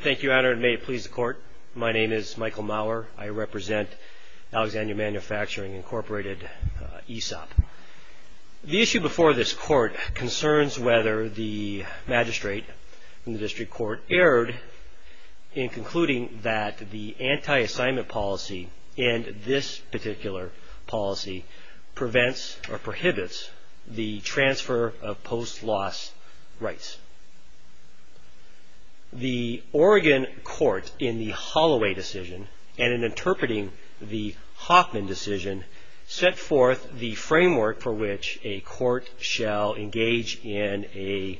Thank you, Your Honor, and may it please the Court, my name is Michael Maurer. I represent Alexandria Manufacturing Incorporated, ESOP. The issue before this Court concerns whether the magistrate in the District Court erred in concluding that the anti-assignment policy in this particular policy prevents or prohibits the transfer of post-loss rights. The Oregon court in the Holloway decision and in interpreting the Hoffman decision set forth the framework for which a court shall engage in a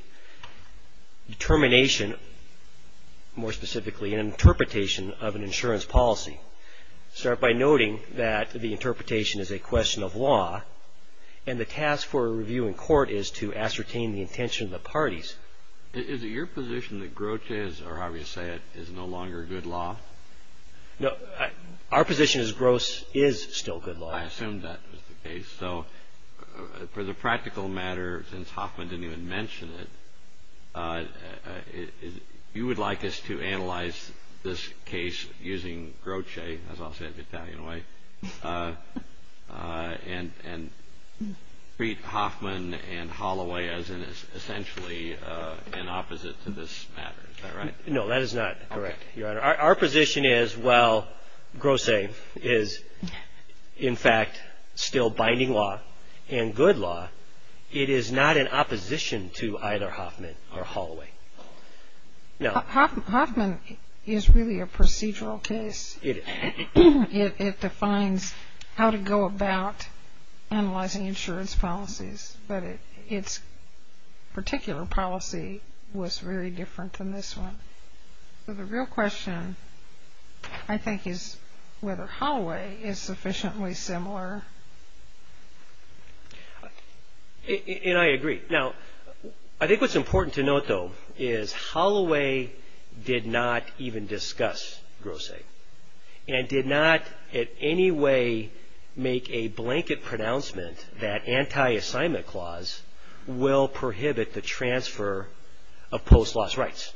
determination, more specifically an interpretation of an insurance policy. Start by noting that the interpretation is a question of law and the task for a review in court is to ascertain the intention of the parties. Is it your position that Grotje, or however you say it, is no longer good law? No, our position is Grotje is still good law. I assumed that was the case, so for the practical matter, since Hoffman didn't even mention it, you would like us to treat Hoffman and Holloway as essentially in opposite to this matter, is that right? No, that is not correct, Your Honor. Our position is while Grotje is in fact still binding law and good law, it is not in opposition to either Hoffman or Holloway. Hoffman is really a procedural case. It defines how to go about analyzing insurance policies, but its particular policy was very different than this one. So the real question, I think, is whether Holloway is sufficiently similar. And I agree. Now, I think what's important to note, though, is Holloway did not even discuss Grotje and did not in any way make a blanket pronouncement that anti-assignment clause will prohibit the transfer of post-loss rights.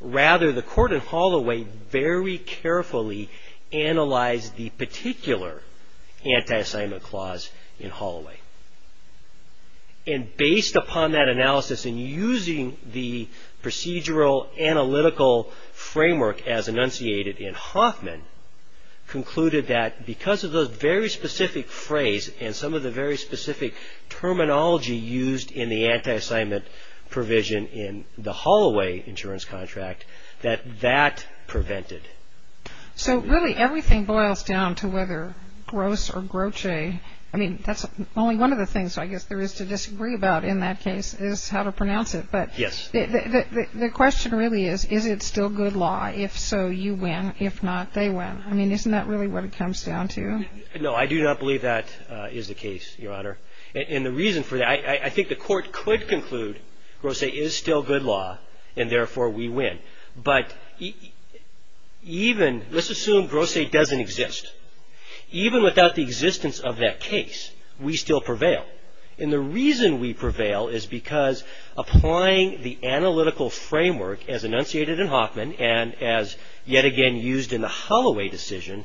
Rather, the court in Holloway very carefully analyzed the particular anti-assignment clause in Holloway. And based upon that analysis and using the procedural analytical framework as enunciated in Hoffman, concluded that because of those very specific phrase and some of the very specific terminology used in the anti-assignment provision in the Holloway insurance contract, that that prevented. So really everything boils down to whether Gross or Grotje, I mean, that's only one of the things I guess there is to disagree about in that case, is how to pronounce it. But the question really is, is it still good law? If so, you win. If not, they win. I mean, isn't that really what it comes down to? No, I do not believe that is the case, Your Honor. And the reason for that, I think the court could conclude Grotje is still good law, and therefore we win. But even, let's assume Grotje doesn't exist. Even without the existence of that case, we still prevail. And the reason we prevail is because applying the analytical framework as enunciated in Hoffman and as yet again used in the Holloway decision,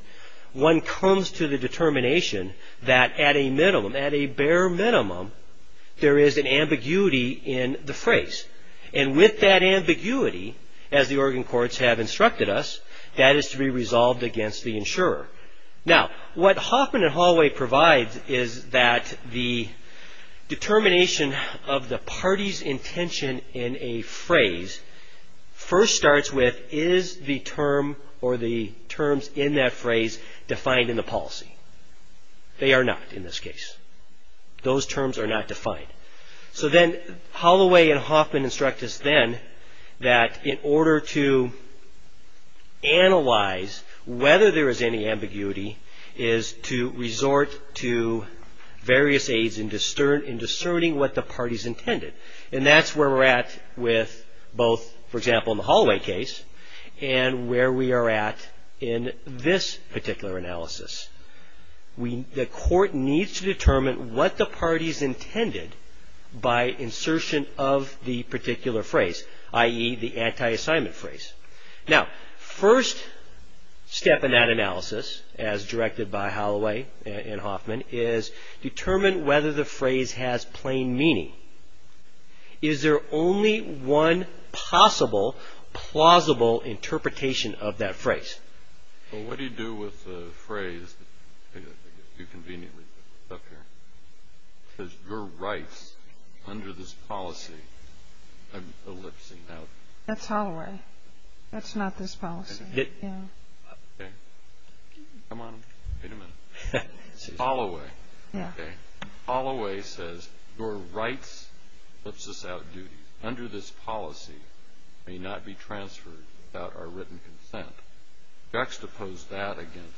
one comes to the determination that at a minimum, at a bare minimum, there is an ambiguity in the Oregon courts have instructed us, that is to be resolved against the insurer. Now, what Hoffman and Holloway provides is that the determination of the party's intention in a phrase first starts with, is the term or the terms in that phrase defined in the policy? They are not in this case. Those terms are not defined. So then Holloway and Hoffman instruct us then that in order to analyze whether there is any ambiguity is to resort to various aids in discerning what the party's intended. And that's where we're at with both, for example, in the Holloway case and where we are at in this particular analysis. The court needs to determine what the party's intended by insertion of the particular phrase, i.e. the anti-assignment phrase. Now, first step in that analysis as directed by Holloway and Hoffman is determine whether the phrase has plain meaning. Is there only one possible, plausible interpretation of that phrase? Well, what do you do with the phrase? You conveniently put it up here. It says, your rights under this policy, I'm elipsing out. That's Holloway. That's not this policy. Okay. Come on. Wait a minute. Holloway. Okay. Holloway says, your rights elipses out duty. Under this policy may not be transferred without our written consent. Juxtapose that against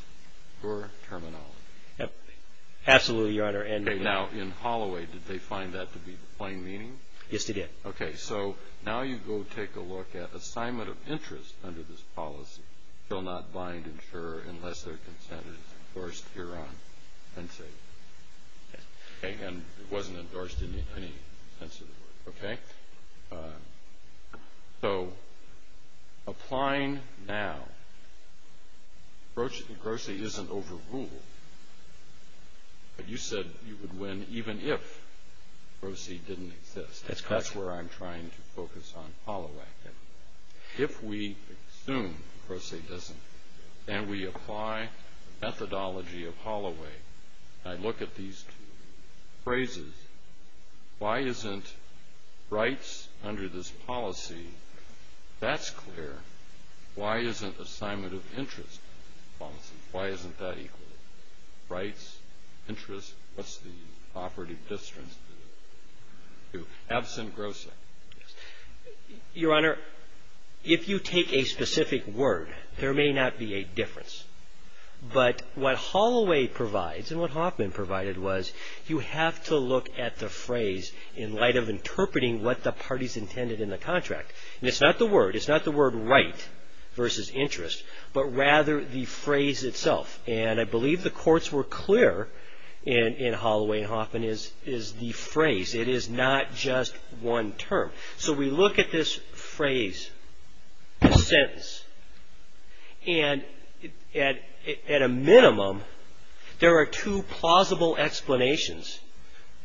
your terminology. Absolutely, Your Honor. Okay. Now, in Holloway, did they find that to be plain meaning? Yes, they did. Okay. So now you go take a look at assignment of interest under this policy. Shall not bind insurer unless their consent is endorsed hereon. And it wasn't endorsed in any sense of the word. Okay? So, applying now, grossie isn't overruled. But you said you would win even if grossie didn't exist. That's where I'm trying to focus on Holloway. If we assume grossie doesn't, and we apply methodology of Holloway, I look at these two phrases. Why isn't rights under this policy, that's clear. Why isn't assignment of interest policy? Why isn't that equal? Rights, interest, what's the operative distance to it? Absent grossie. Your Honor, if you take a specific word, there may not be a difference. But what Holloway provides, and what Hoffman provided was, you have to look at the phrase in light of interpreting what the parties intended in the contract. And it's not the word. It's not the word right versus interest, but rather the phrase itself. And I believe the courts were clear in Holloway and Hoffman is the phrase. It is not just one term. So we look at this phrase, the sentence, and at a minimum, there are two plausible explanations.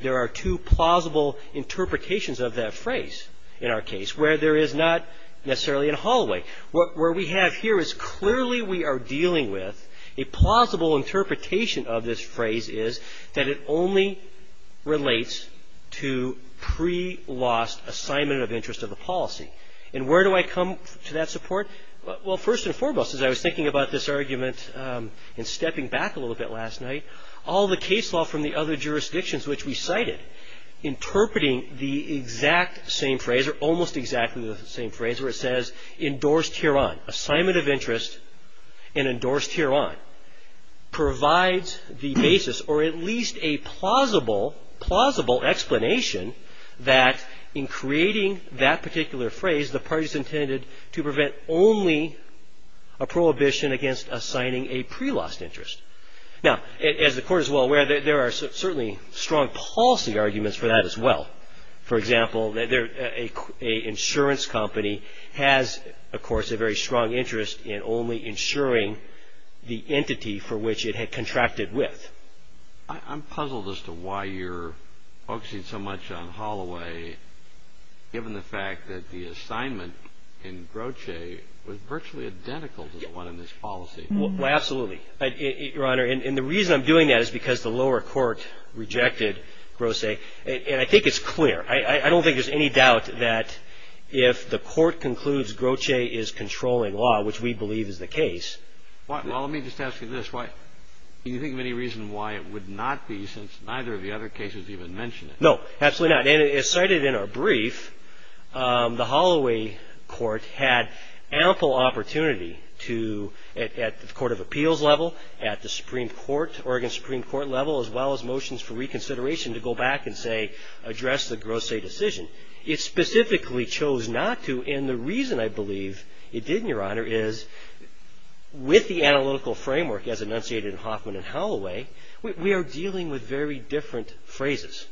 There are two plausible interpretations of that phrase in our case where there is not necessarily a Holloway. What we have here is clearly we are dealing with a plausible interpretation of this phrase is that it only relates to pre-loss assignment of interest of the policy. And where do I come to that support? Well, first and foremost, as I was thinking about this argument and stepping back a little bit last night, all the case law from the other jurisdictions which we cited interpreting the exact same phrase or almost exactly the same phrase where it says endorsed hereon, assignment of interest and endorsed hereon, provides the basis or at least a plausible, plausible explanation that in creating that particular phrase, the parties intended to prevent only a prohibition against assigning a pre-loss interest. Now, as the court is well aware, there are certainly strong policy arguments for that as well. For example, a insurance company has, of course, a very strong interest in only insuring the entity for which it had contracted with. I'm puzzled as to why you're focusing so much on Holloway given the fact that the assignment in Groce was virtually identical to the one in this policy. Well, absolutely. Your Honor, and the reason I'm doing that is because the lower court rejected Groce. And I think it's clear. I don't think there's any doubt that if the court concludes Groce is controlling law, which we believe is the case. Well, let me just ask you this. Do you think of any reason why it would not be since neither of the other cases even mention it? No, absolutely not. And as cited in our brief, the Holloway Court had ample opportunity to, at the Court of Appeals level, at the Supreme Court, Oregon Supreme Court level, as well as motions for reconsideration to go back and say address the Groce decision. It specifically chose not to. And the reason I believe it did, Your Honor, is with the analytical framework as enunciated in Hoffman and Holloway, we are dealing with very different phrases.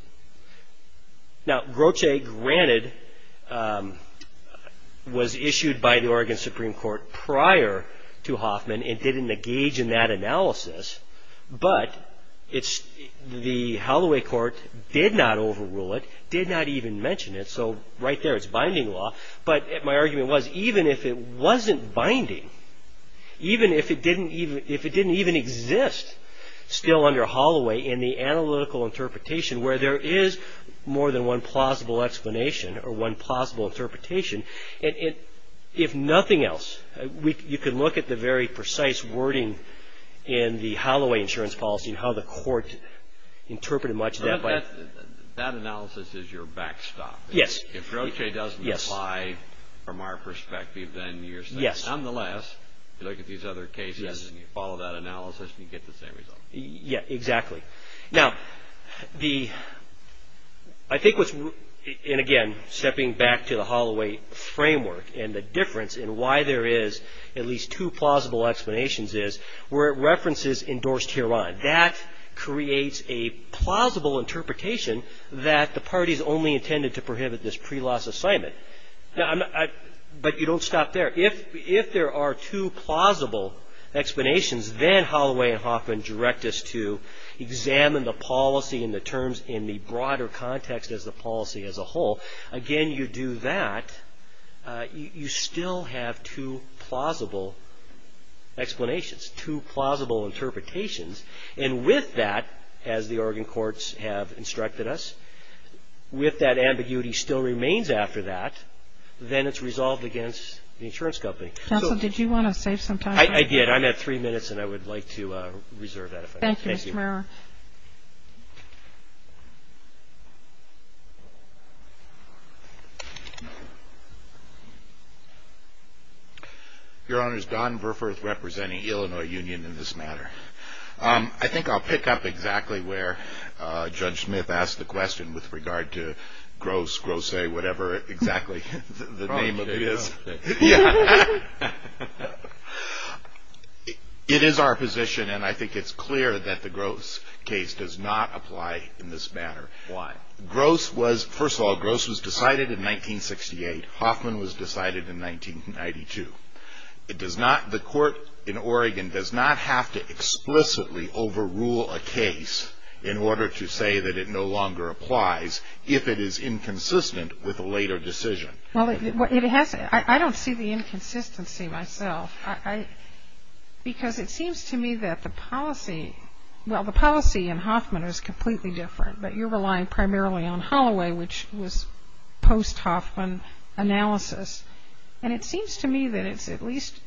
Now, Groce, granted, was issued by the Oregon Supreme Court prior to Hoffman and didn't engage in that analysis. But the Holloway Court did not overrule it, did not even mention it. So right there, it's binding law. But my argument was, even if it wasn't binding, even if it didn't even exist still under Holloway in the analytical interpretation where there is more than one plausible explanation or one plausible interpretation, if nothing else, you can look at the very precise wording in the Holloway insurance policy and how the court interpreted much of that. That analysis is your backstop. Yes. If Groce doesn't apply from our perspective, then you're saying, nonetheless, you look at these other cases and you follow that analysis and you get the same result. Yeah, exactly. Now, the, I think what's, and again, stepping back to the Holloway framework and the difference in why there is at least two plausible explanations is where it references endorsed Huron. That creates a plausible interpretation that the parties only intended to prohibit this pre-loss assignment. Now, but you don't stop there. If there are two plausible explanations, then Holloway and Hoffman direct us to examine the policy and the terms in the broader context as the policy as a whole. Again, you do that, you still have two plausible explanations, two plausible interpretations, and with that, as the Oregon courts have instructed us, with that ambiguity still remains after that, then it's resolved against the insurance company. Counsel, did you want to save some time? I did. I'm at three minutes and I would like to reserve that if I may. Thank you, Mr. Marrow. Your Honor, Don Verfurth representing Illinois Union in this matter. I think I'll pick up exactly where Judge Smith asked the question with regard to Gross, Grosse, whatever exactly the name of it is. It is our position and I think it's clear that the Gross case does not apply in this matter. Why? Gross was, first of all, Gross was decided in 1968. Hoffman was decided in 1992. It does not, the court in Oregon does not have to explicitly overrule a case in order to say that it no longer applies if it is inconsistent with a later decision. Well, it has, I don't see the inconsistency myself. Because it seems to me that the policy, well, the policy in Hoffman is completely different, but you're relying primarily on Holloway, which was post-Hoffman analysis, and it seems to me that it's at least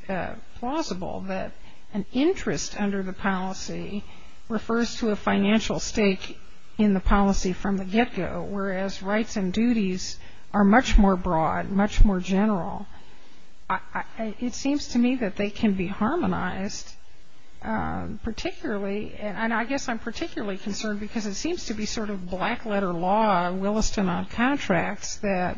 plausible that an interest under the policy refers to a financial stake in the policy from the get-go, whereas rights and duties are much more broad, much more general. It seems to me that they can be harmonized, particularly, and I guess I'm particularly concerned because it seems to be sort of black-letter law, Williston on contracts, that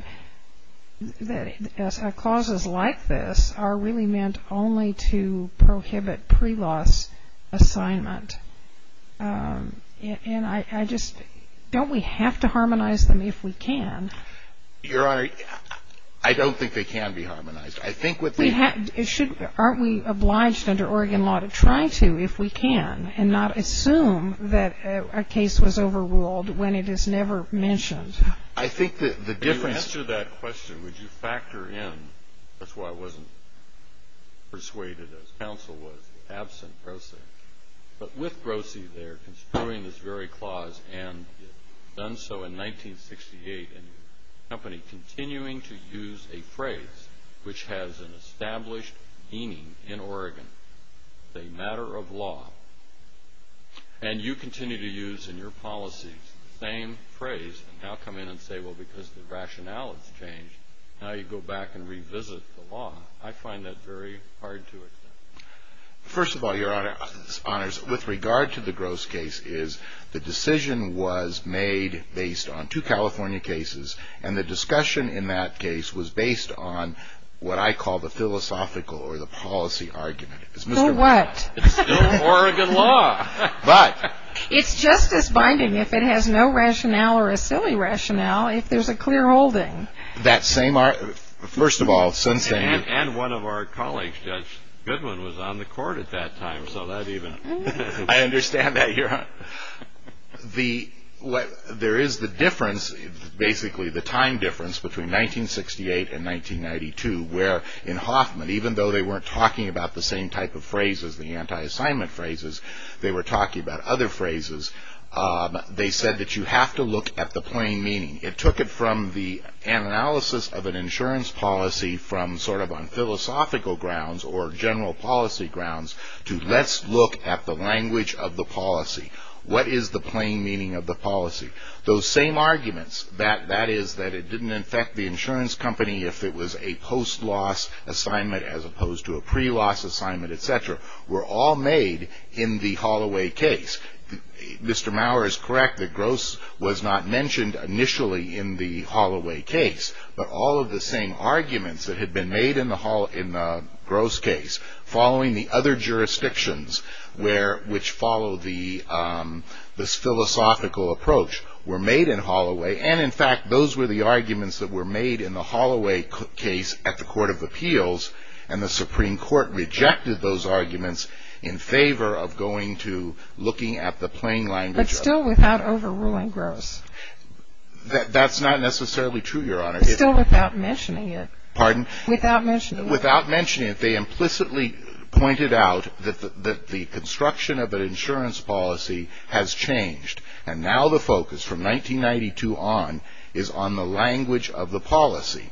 clauses like this are really meant only to prohibit pre-laws assignment. And I just, don't we have to harmonize them if we can? Your Honor, I don't think they can be harmonized. I think what they. We have, it should, aren't we obliged under Oregon law to try to if we can and not assume that a case was overruled when it is never mentioned? I think that the difference. To answer that question, would you factor in, that's why I wasn't persuaded as counsel was absent grossly. But with grossly, they're construing this very clause and done so in 1968, and the company continuing to use a phrase which has an established meaning in Oregon, the matter of law. And you continue to use in your policies the same phrase and now come in and say, well, because the rationale has changed, now you go back and revisit the law. I find that very hard to accept. First of all, Your Honor, with regard to the gross case is the decision was made based on two California cases, and the discussion in that case was based on what I call the philosophical or the policy argument. It's Mr. What? It's still Oregon law. But. It's just as binding if it has no rationale or a silly rationale if there's a clear holding. That same, first of all. And one of our colleagues, Judge Goodwin, was on the court at that time, so that even. I understand that, Your Honor. There is the difference, basically the time difference between 1968 and 1992, where in Hoffman, even though they weren't talking about the same type of phrases, the anti-assignment phrases, they were talking about other phrases. They said that you have to look at the plain meaning. It took it from the analysis of an insurance policy from sort of on philosophical grounds or general policy grounds to let's look at the language of the policy. What is the plain meaning of the policy? Those same arguments, that is that it didn't affect the insurance company if it was a post-loss assignment as opposed to a pre-loss assignment, etc., were all made in the Holloway case. Mr. Maurer is correct that Gross was not mentioned initially in the Holloway case, but all of the same arguments that had been made in the Gross case following the other jurisdictions which followed this philosophical approach were made in Holloway. And in fact, those were the arguments that were made in the Holloway case at the Court of Appeals, and the Supreme Court rejected those arguments in favor of going to looking at the plain language. But still without overruling Gross. That's not necessarily true, Your Honor. Still without mentioning it. Pardon? Without mentioning it. Without mentioning it, they implicitly pointed out that the construction of an insurance policy has changed, and now the focus from 1992 on is on the language of the policy.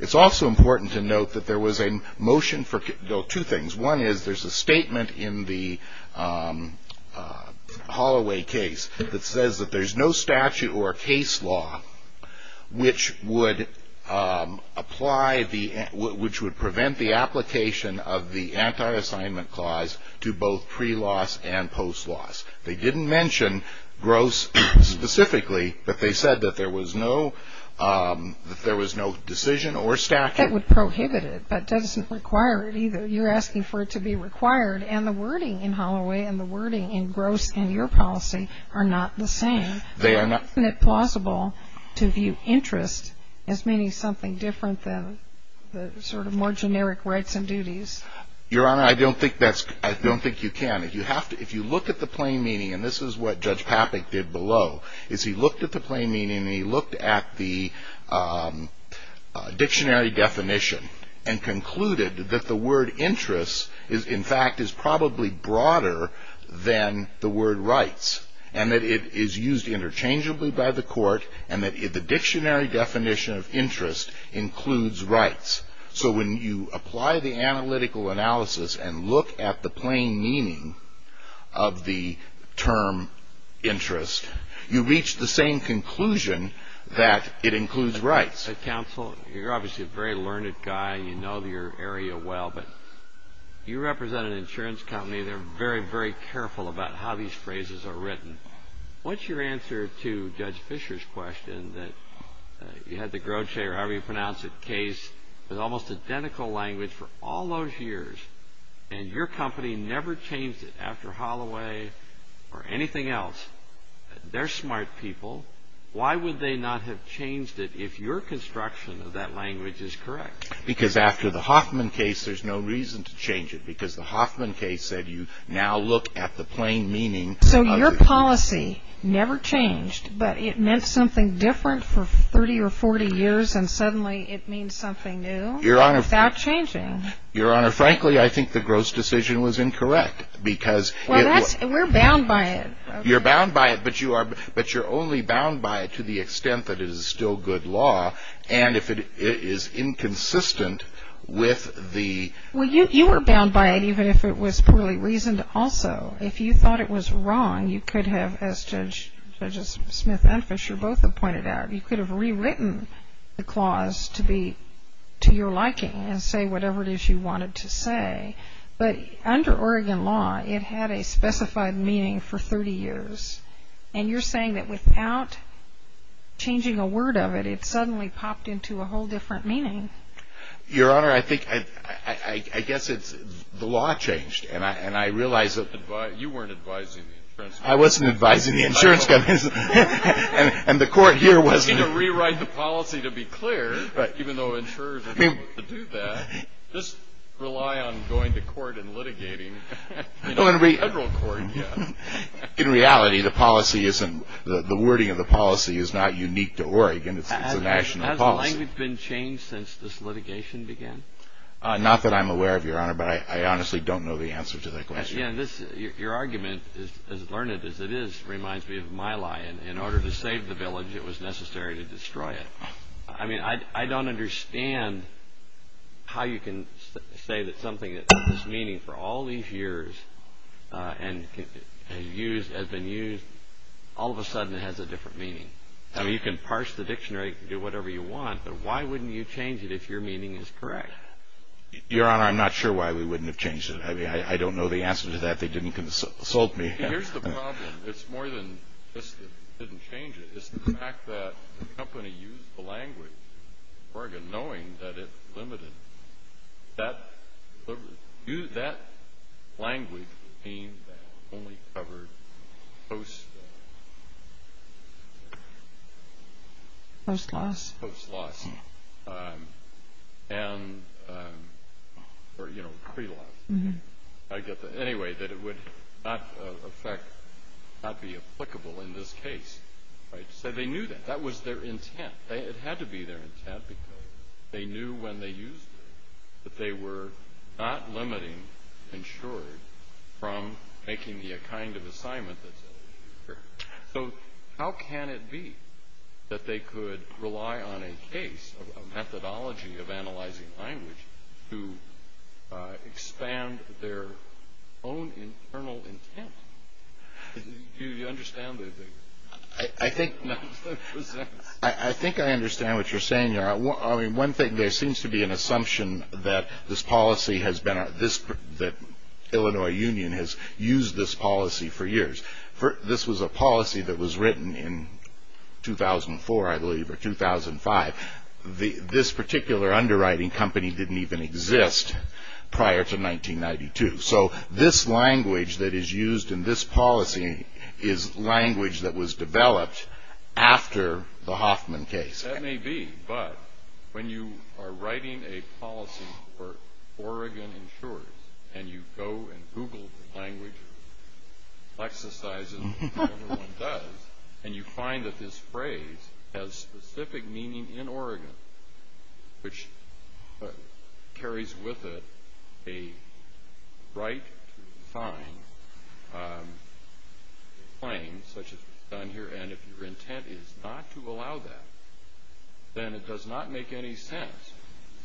It's also important to note that there was a motion for two things. One is there's a statement in the Holloway case that says that there's no statute or case law which would apply the, which would prevent the application of the anti-assignment clause to both pre-loss and post-loss. They didn't mention Gross specifically, but they said that there was no decision or statute. That would prohibit it, but doesn't require it either. You're asking for it to be required, and the wording in Holloway and the wording in Gross in your policy are not the same. They are not. Isn't it plausible to view interest as meaning something different than the sort of more generic rights and duties? Your Honor, I don't think that's, I don't think you can. If you have to, if you look at the plain meaning, and this is what Judge Papik did below, is he looked at the plain meaning, and he looked at the dictionary definition, and concluded that the word interest is in fact is probably broader than the word rights, and that it is used interchangeably by the court, and that the dictionary definition of interest includes rights. So, when you apply the analytical analysis and look at the plain meaning of the term interest, you reach the same conclusion that it includes rights. Counsel, you're obviously a very learned guy, and you know your area well, but you represent an insurance company. They're very, very careful about how these phrases are written. What's your answer to Judge Fisher's question that you had the Grote or however you pronounce it, the Hoffman case with almost identical language for all those years, and your company never changed it after Holloway or anything else? They're smart people. Why would they not have changed it if your construction of that language is correct? Because after the Hoffman case, there's no reason to change it, because the Hoffman case said you now look at the plain meaning. So, your policy never changed, but it meant something different for 30 or 40 years, and suddenly it means something new without changing. Your Honor, frankly, I think the Grote decision was incorrect, because it was. Well, we're bound by it. You're bound by it, but you're only bound by it to the extent that it is still good law, and if it is inconsistent with the. Well, you were bound by it even if it was poorly reasoned also. If you thought it was wrong, you could have, as Judges Smith and Fisher both have pointed out, you could have rewritten the clause to your liking and say whatever it is you wanted to say, but under Oregon law, it had a specified meaning for 30 years, and you're saying that without changing a word of it, it suddenly popped into a whole different meaning. Your Honor, I guess the law changed, and I realize that. You weren't advising the insurance companies. I wasn't advising the insurance companies, and the court here wasn't. You need to rewrite the policy to be clear, even though insurers are not able to do that. Just rely on going to court and litigating in a federal court. In reality, the wording of the policy is not unique to Oregon. It's a national policy. Has the language been changed since this litigation began? Not that I'm aware of, Your Honor, but I honestly don't know the answer to that question. Your argument, as learned as it is, reminds me of my lie. In order to save the village, it was necessary to destroy it. I mean, I don't understand how you can say that something that has meaning for all these years and has been used all of a sudden has a different meaning. I mean, you can parse the dictionary, you can do whatever you want, but why wouldn't you change it if your meaning is correct? Your Honor, I'm not sure why we wouldn't have changed it. I mean, I don't know the answer to that. They didn't consult me. Here's the problem. It's more than just that we didn't change it. It's the fact that the company used the language in Oregon knowing that it limited. That language only covered post-loss and pre-loss. I get that. Anyway, that it would not affect, not be applicable in this case, right? So they knew that. That was their intent. It had to be their intent because they knew when they used it that they were not limiting insured from making the kind of assignment that's eligible. So how can it be that they could rely on a case, a methodology of analyzing language to expand their own internal intent? Do you understand what I'm saying? I think I understand what you're saying, Your Honor. I mean, one thing, there seems to be an assumption that this policy has been, that Illinois Union has used this policy for years. This was a policy that was written in 2004, I believe, or 2005. This particular underwriting company didn't even exist prior to 1992. So this language that is used in this policy is language that was developed after the Hoffman case. That may be, but when you are writing a policy for Oregon insurers and you go and Google the language exercises that everyone does, and you find that this phrase has specific meaning in Oregon, which carries with it a right to find claims such as is done here, and if your intent is not to allow that, then it does not make any sense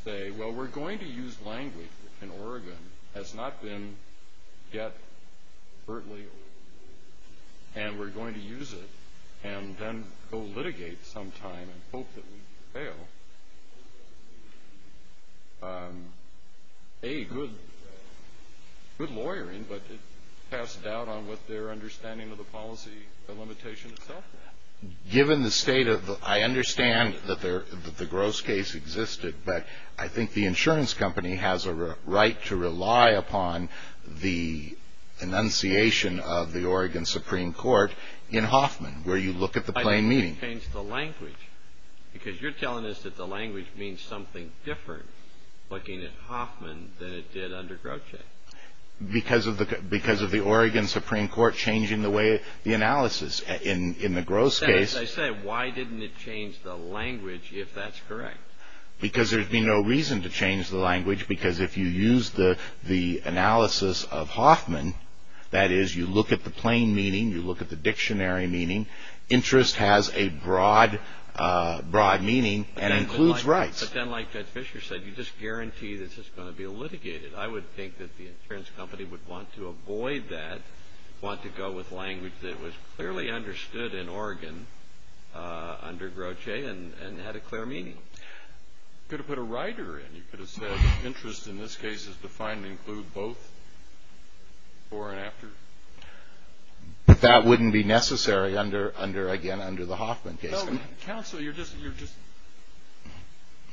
to say, well, we're going to use language that in Oregon has not been yet overtly, and we're going to use it, and then go litigate sometime and hope that we fail. A, good lawyering, but it passed out on what their understanding of the policy, the limitation itself. Given the state of, I understand that the gross case existed, but I think the insurance company has a right to rely upon the enunciation of the Oregon Supreme Court in Hoffman, where you look at the plain meaning. I think they changed the language, because you're telling us that the language means something different looking at Hoffman than it did under Grotje. Because of the Oregon Supreme Court changing the way the analysis in the gross case. I said, why didn't it change the language if that's correct? Because there'd be no reason to change the language, because if you use the analysis of Hoffman, that is, you look at the plain meaning, you look at the dictionary meaning, interest has a broad meaning and includes rights. But then like Judge Fisher said, you just guarantee that this is going to be litigated. I would think that the insurance company would want to avoid that, want to go with language that was clearly understood in Oregon under Grotje and had a clear meaning. You could have put a writer in. You could have said interest in this case is defined to include both before and after. But that wouldn't be necessary under, again, under the Hoffman case. Counsel, you're just,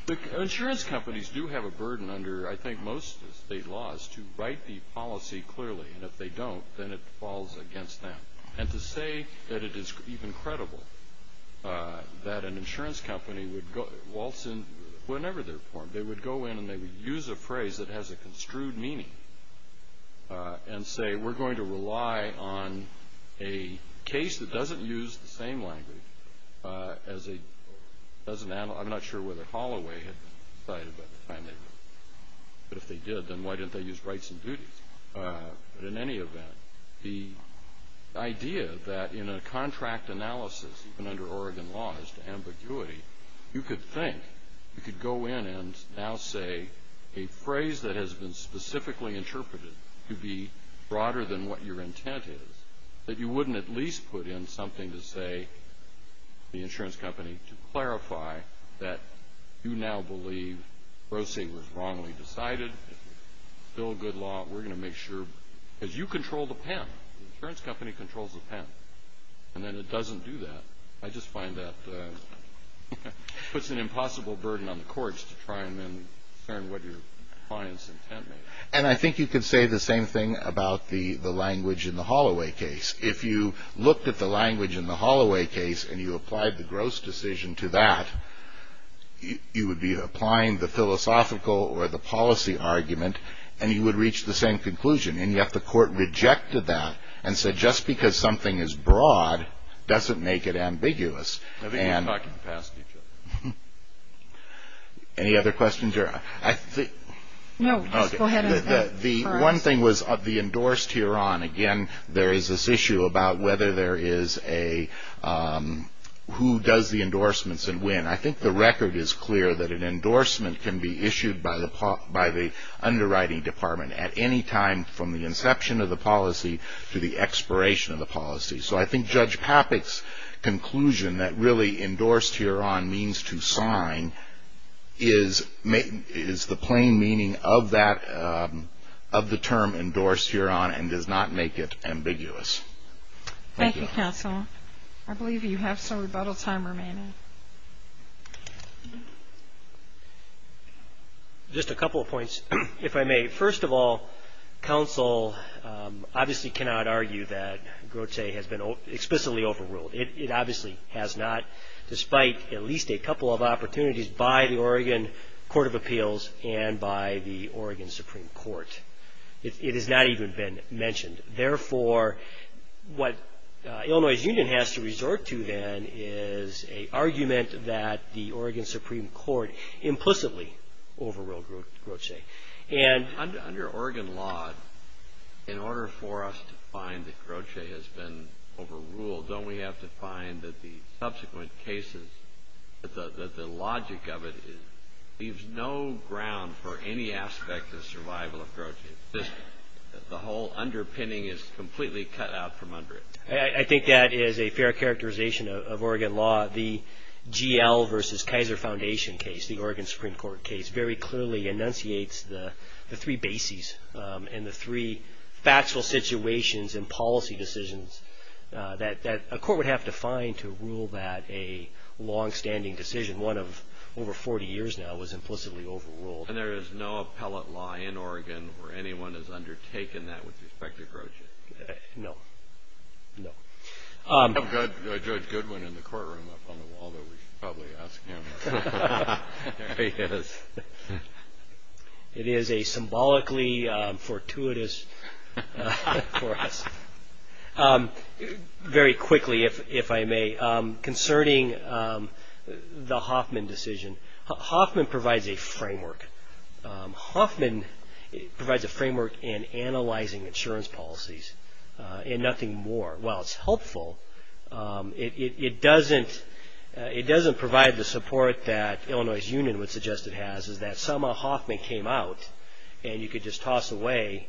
the insurance companies do have a burden under, I think, most state laws to write the policy clearly. And if they don't, then it falls against them. And to say that it is even credible that an insurance company would go, waltz in whenever they're formed. They would go in and they would use a phrase that has a construed meaning and say, we're going to rely on a case that doesn't use the same language as a, doesn't, I'm not sure whether Holloway had decided by the time they did. But if they did, then why didn't they use rights and duties? But in any event, the idea that in a contract analysis, even under Oregon laws to ambiguity, you could think, you could go in and now say a phrase that has been specifically interpreted to be broader than what your intent is, that you wouldn't at least put in something to say the insurance company to clarify that you now believe Grotje was wrongly decided. Bill Goodlaw, we're going to make sure, because you control the pen. The insurance company controls the pen. And then it doesn't do that. I just find that puts an impossible burden on the courts to try and then determine what your client's intent may be. And I think you could say the same thing about the language in the Holloway case. If you looked at the language in the Holloway case and you applied the Grotje decision to that, you would be applying the philosophical or the policy argument and you would reach the same conclusion. And yet the court rejected that and said, just because something is broad, doesn't make it ambiguous. And I think we're talking past each other. Any other questions here? I think. No, just go ahead. The one thing was the endorsed hereon. Again, there is this issue about whether there is a, who does the endorsements and when. I think the record is clear that an endorsement can be issued by the underwriting department at any time from the inception of the policy to the expiration of the policy. So I think Judge Papik's conclusion that really endorsed hereon means to sign is the plain meaning of that, of the term endorsed hereon and does not make it ambiguous. Thank you, counsel. I believe you have some rebuttal time remaining. Just a couple of points, if I may. First of all, counsel obviously cannot argue that Grotje has been explicitly overruled. It obviously has not, despite at least a couple of opportunities by the Oregon Court of Appeals and by the Oregon Supreme Court, it has not even been mentioned. Therefore, what Illinois Union has to resort to then is an argument that the Oregon Supreme Court implicitly overruled Grotje. And. Under Oregon law, in order for us to find that Grotje has been overruled, don't we have to find that the subsequent cases, that the logic of it leaves no ground for any aspect of survival of Grotje? Just the whole underpinning is completely cut out from under it. I think that is a fair characterization of Oregon law. The GL versus Kaiser Foundation case, the Oregon Supreme Court case, very clearly enunciates the three bases and the three factual situations and policy decisions that a court would have to find to rule that a long-standing decision, one of over 40 years now, was implicitly overruled. And there is no appellate law in Oregon where anyone has undertaken that with respect to Grotje? No. No. I have Judge Goodwin in the courtroom up on the wall that we should probably ask him. It is a symbolically fortuitous for us. Very quickly, if I may, concerning the Hoffman decision, Hoffman provides a framework. Hoffman provides a framework in analyzing insurance policies and nothing more. While it is helpful, it doesn't provide the support that Illinois Union would suggest it has, is that somehow Hoffman came out and you could just toss away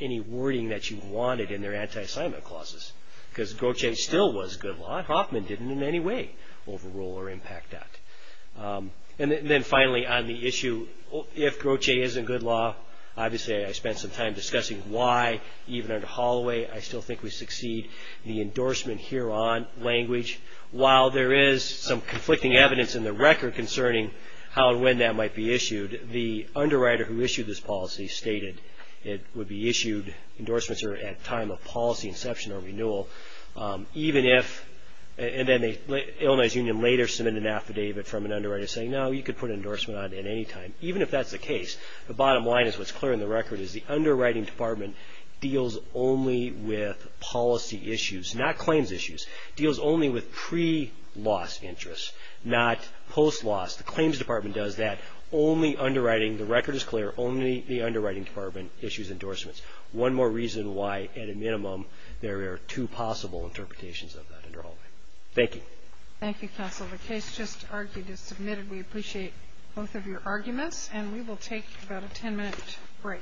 any wording that you wanted in their anti-assignment clauses, because Grotje still was good law and Hoffman didn't in any way overrule or impact that. And then finally, on the issue, if Grotje isn't good law, obviously I spent some time discussing why, even under Holloway, I still think we succeed the endorsement here on language. While there is some conflicting evidence in the record concerning how and when that might be issued, the underwriter who issued this policy stated it would be issued, endorsements are at time of policy inception or renewal, even if, and then the Illinois Union later submitted an affidavit from an underwriter saying, no, you could put an endorsement on at any time, even if that's the case. The bottom line is what's clear in the record is the underwriting department deals only with policy issues, not claims issues, deals only with pre-loss interest, not post-loss. The claims department does that. Only underwriting, the record is clear, only the underwriting department issues endorsements. One more reason why, at a minimum, there are two possible interpretations of that under Holloway. Thank you. Thank you, Counsel. The case just argued is submitted. We appreciate both of your arguments and we will take about a ten-minute break.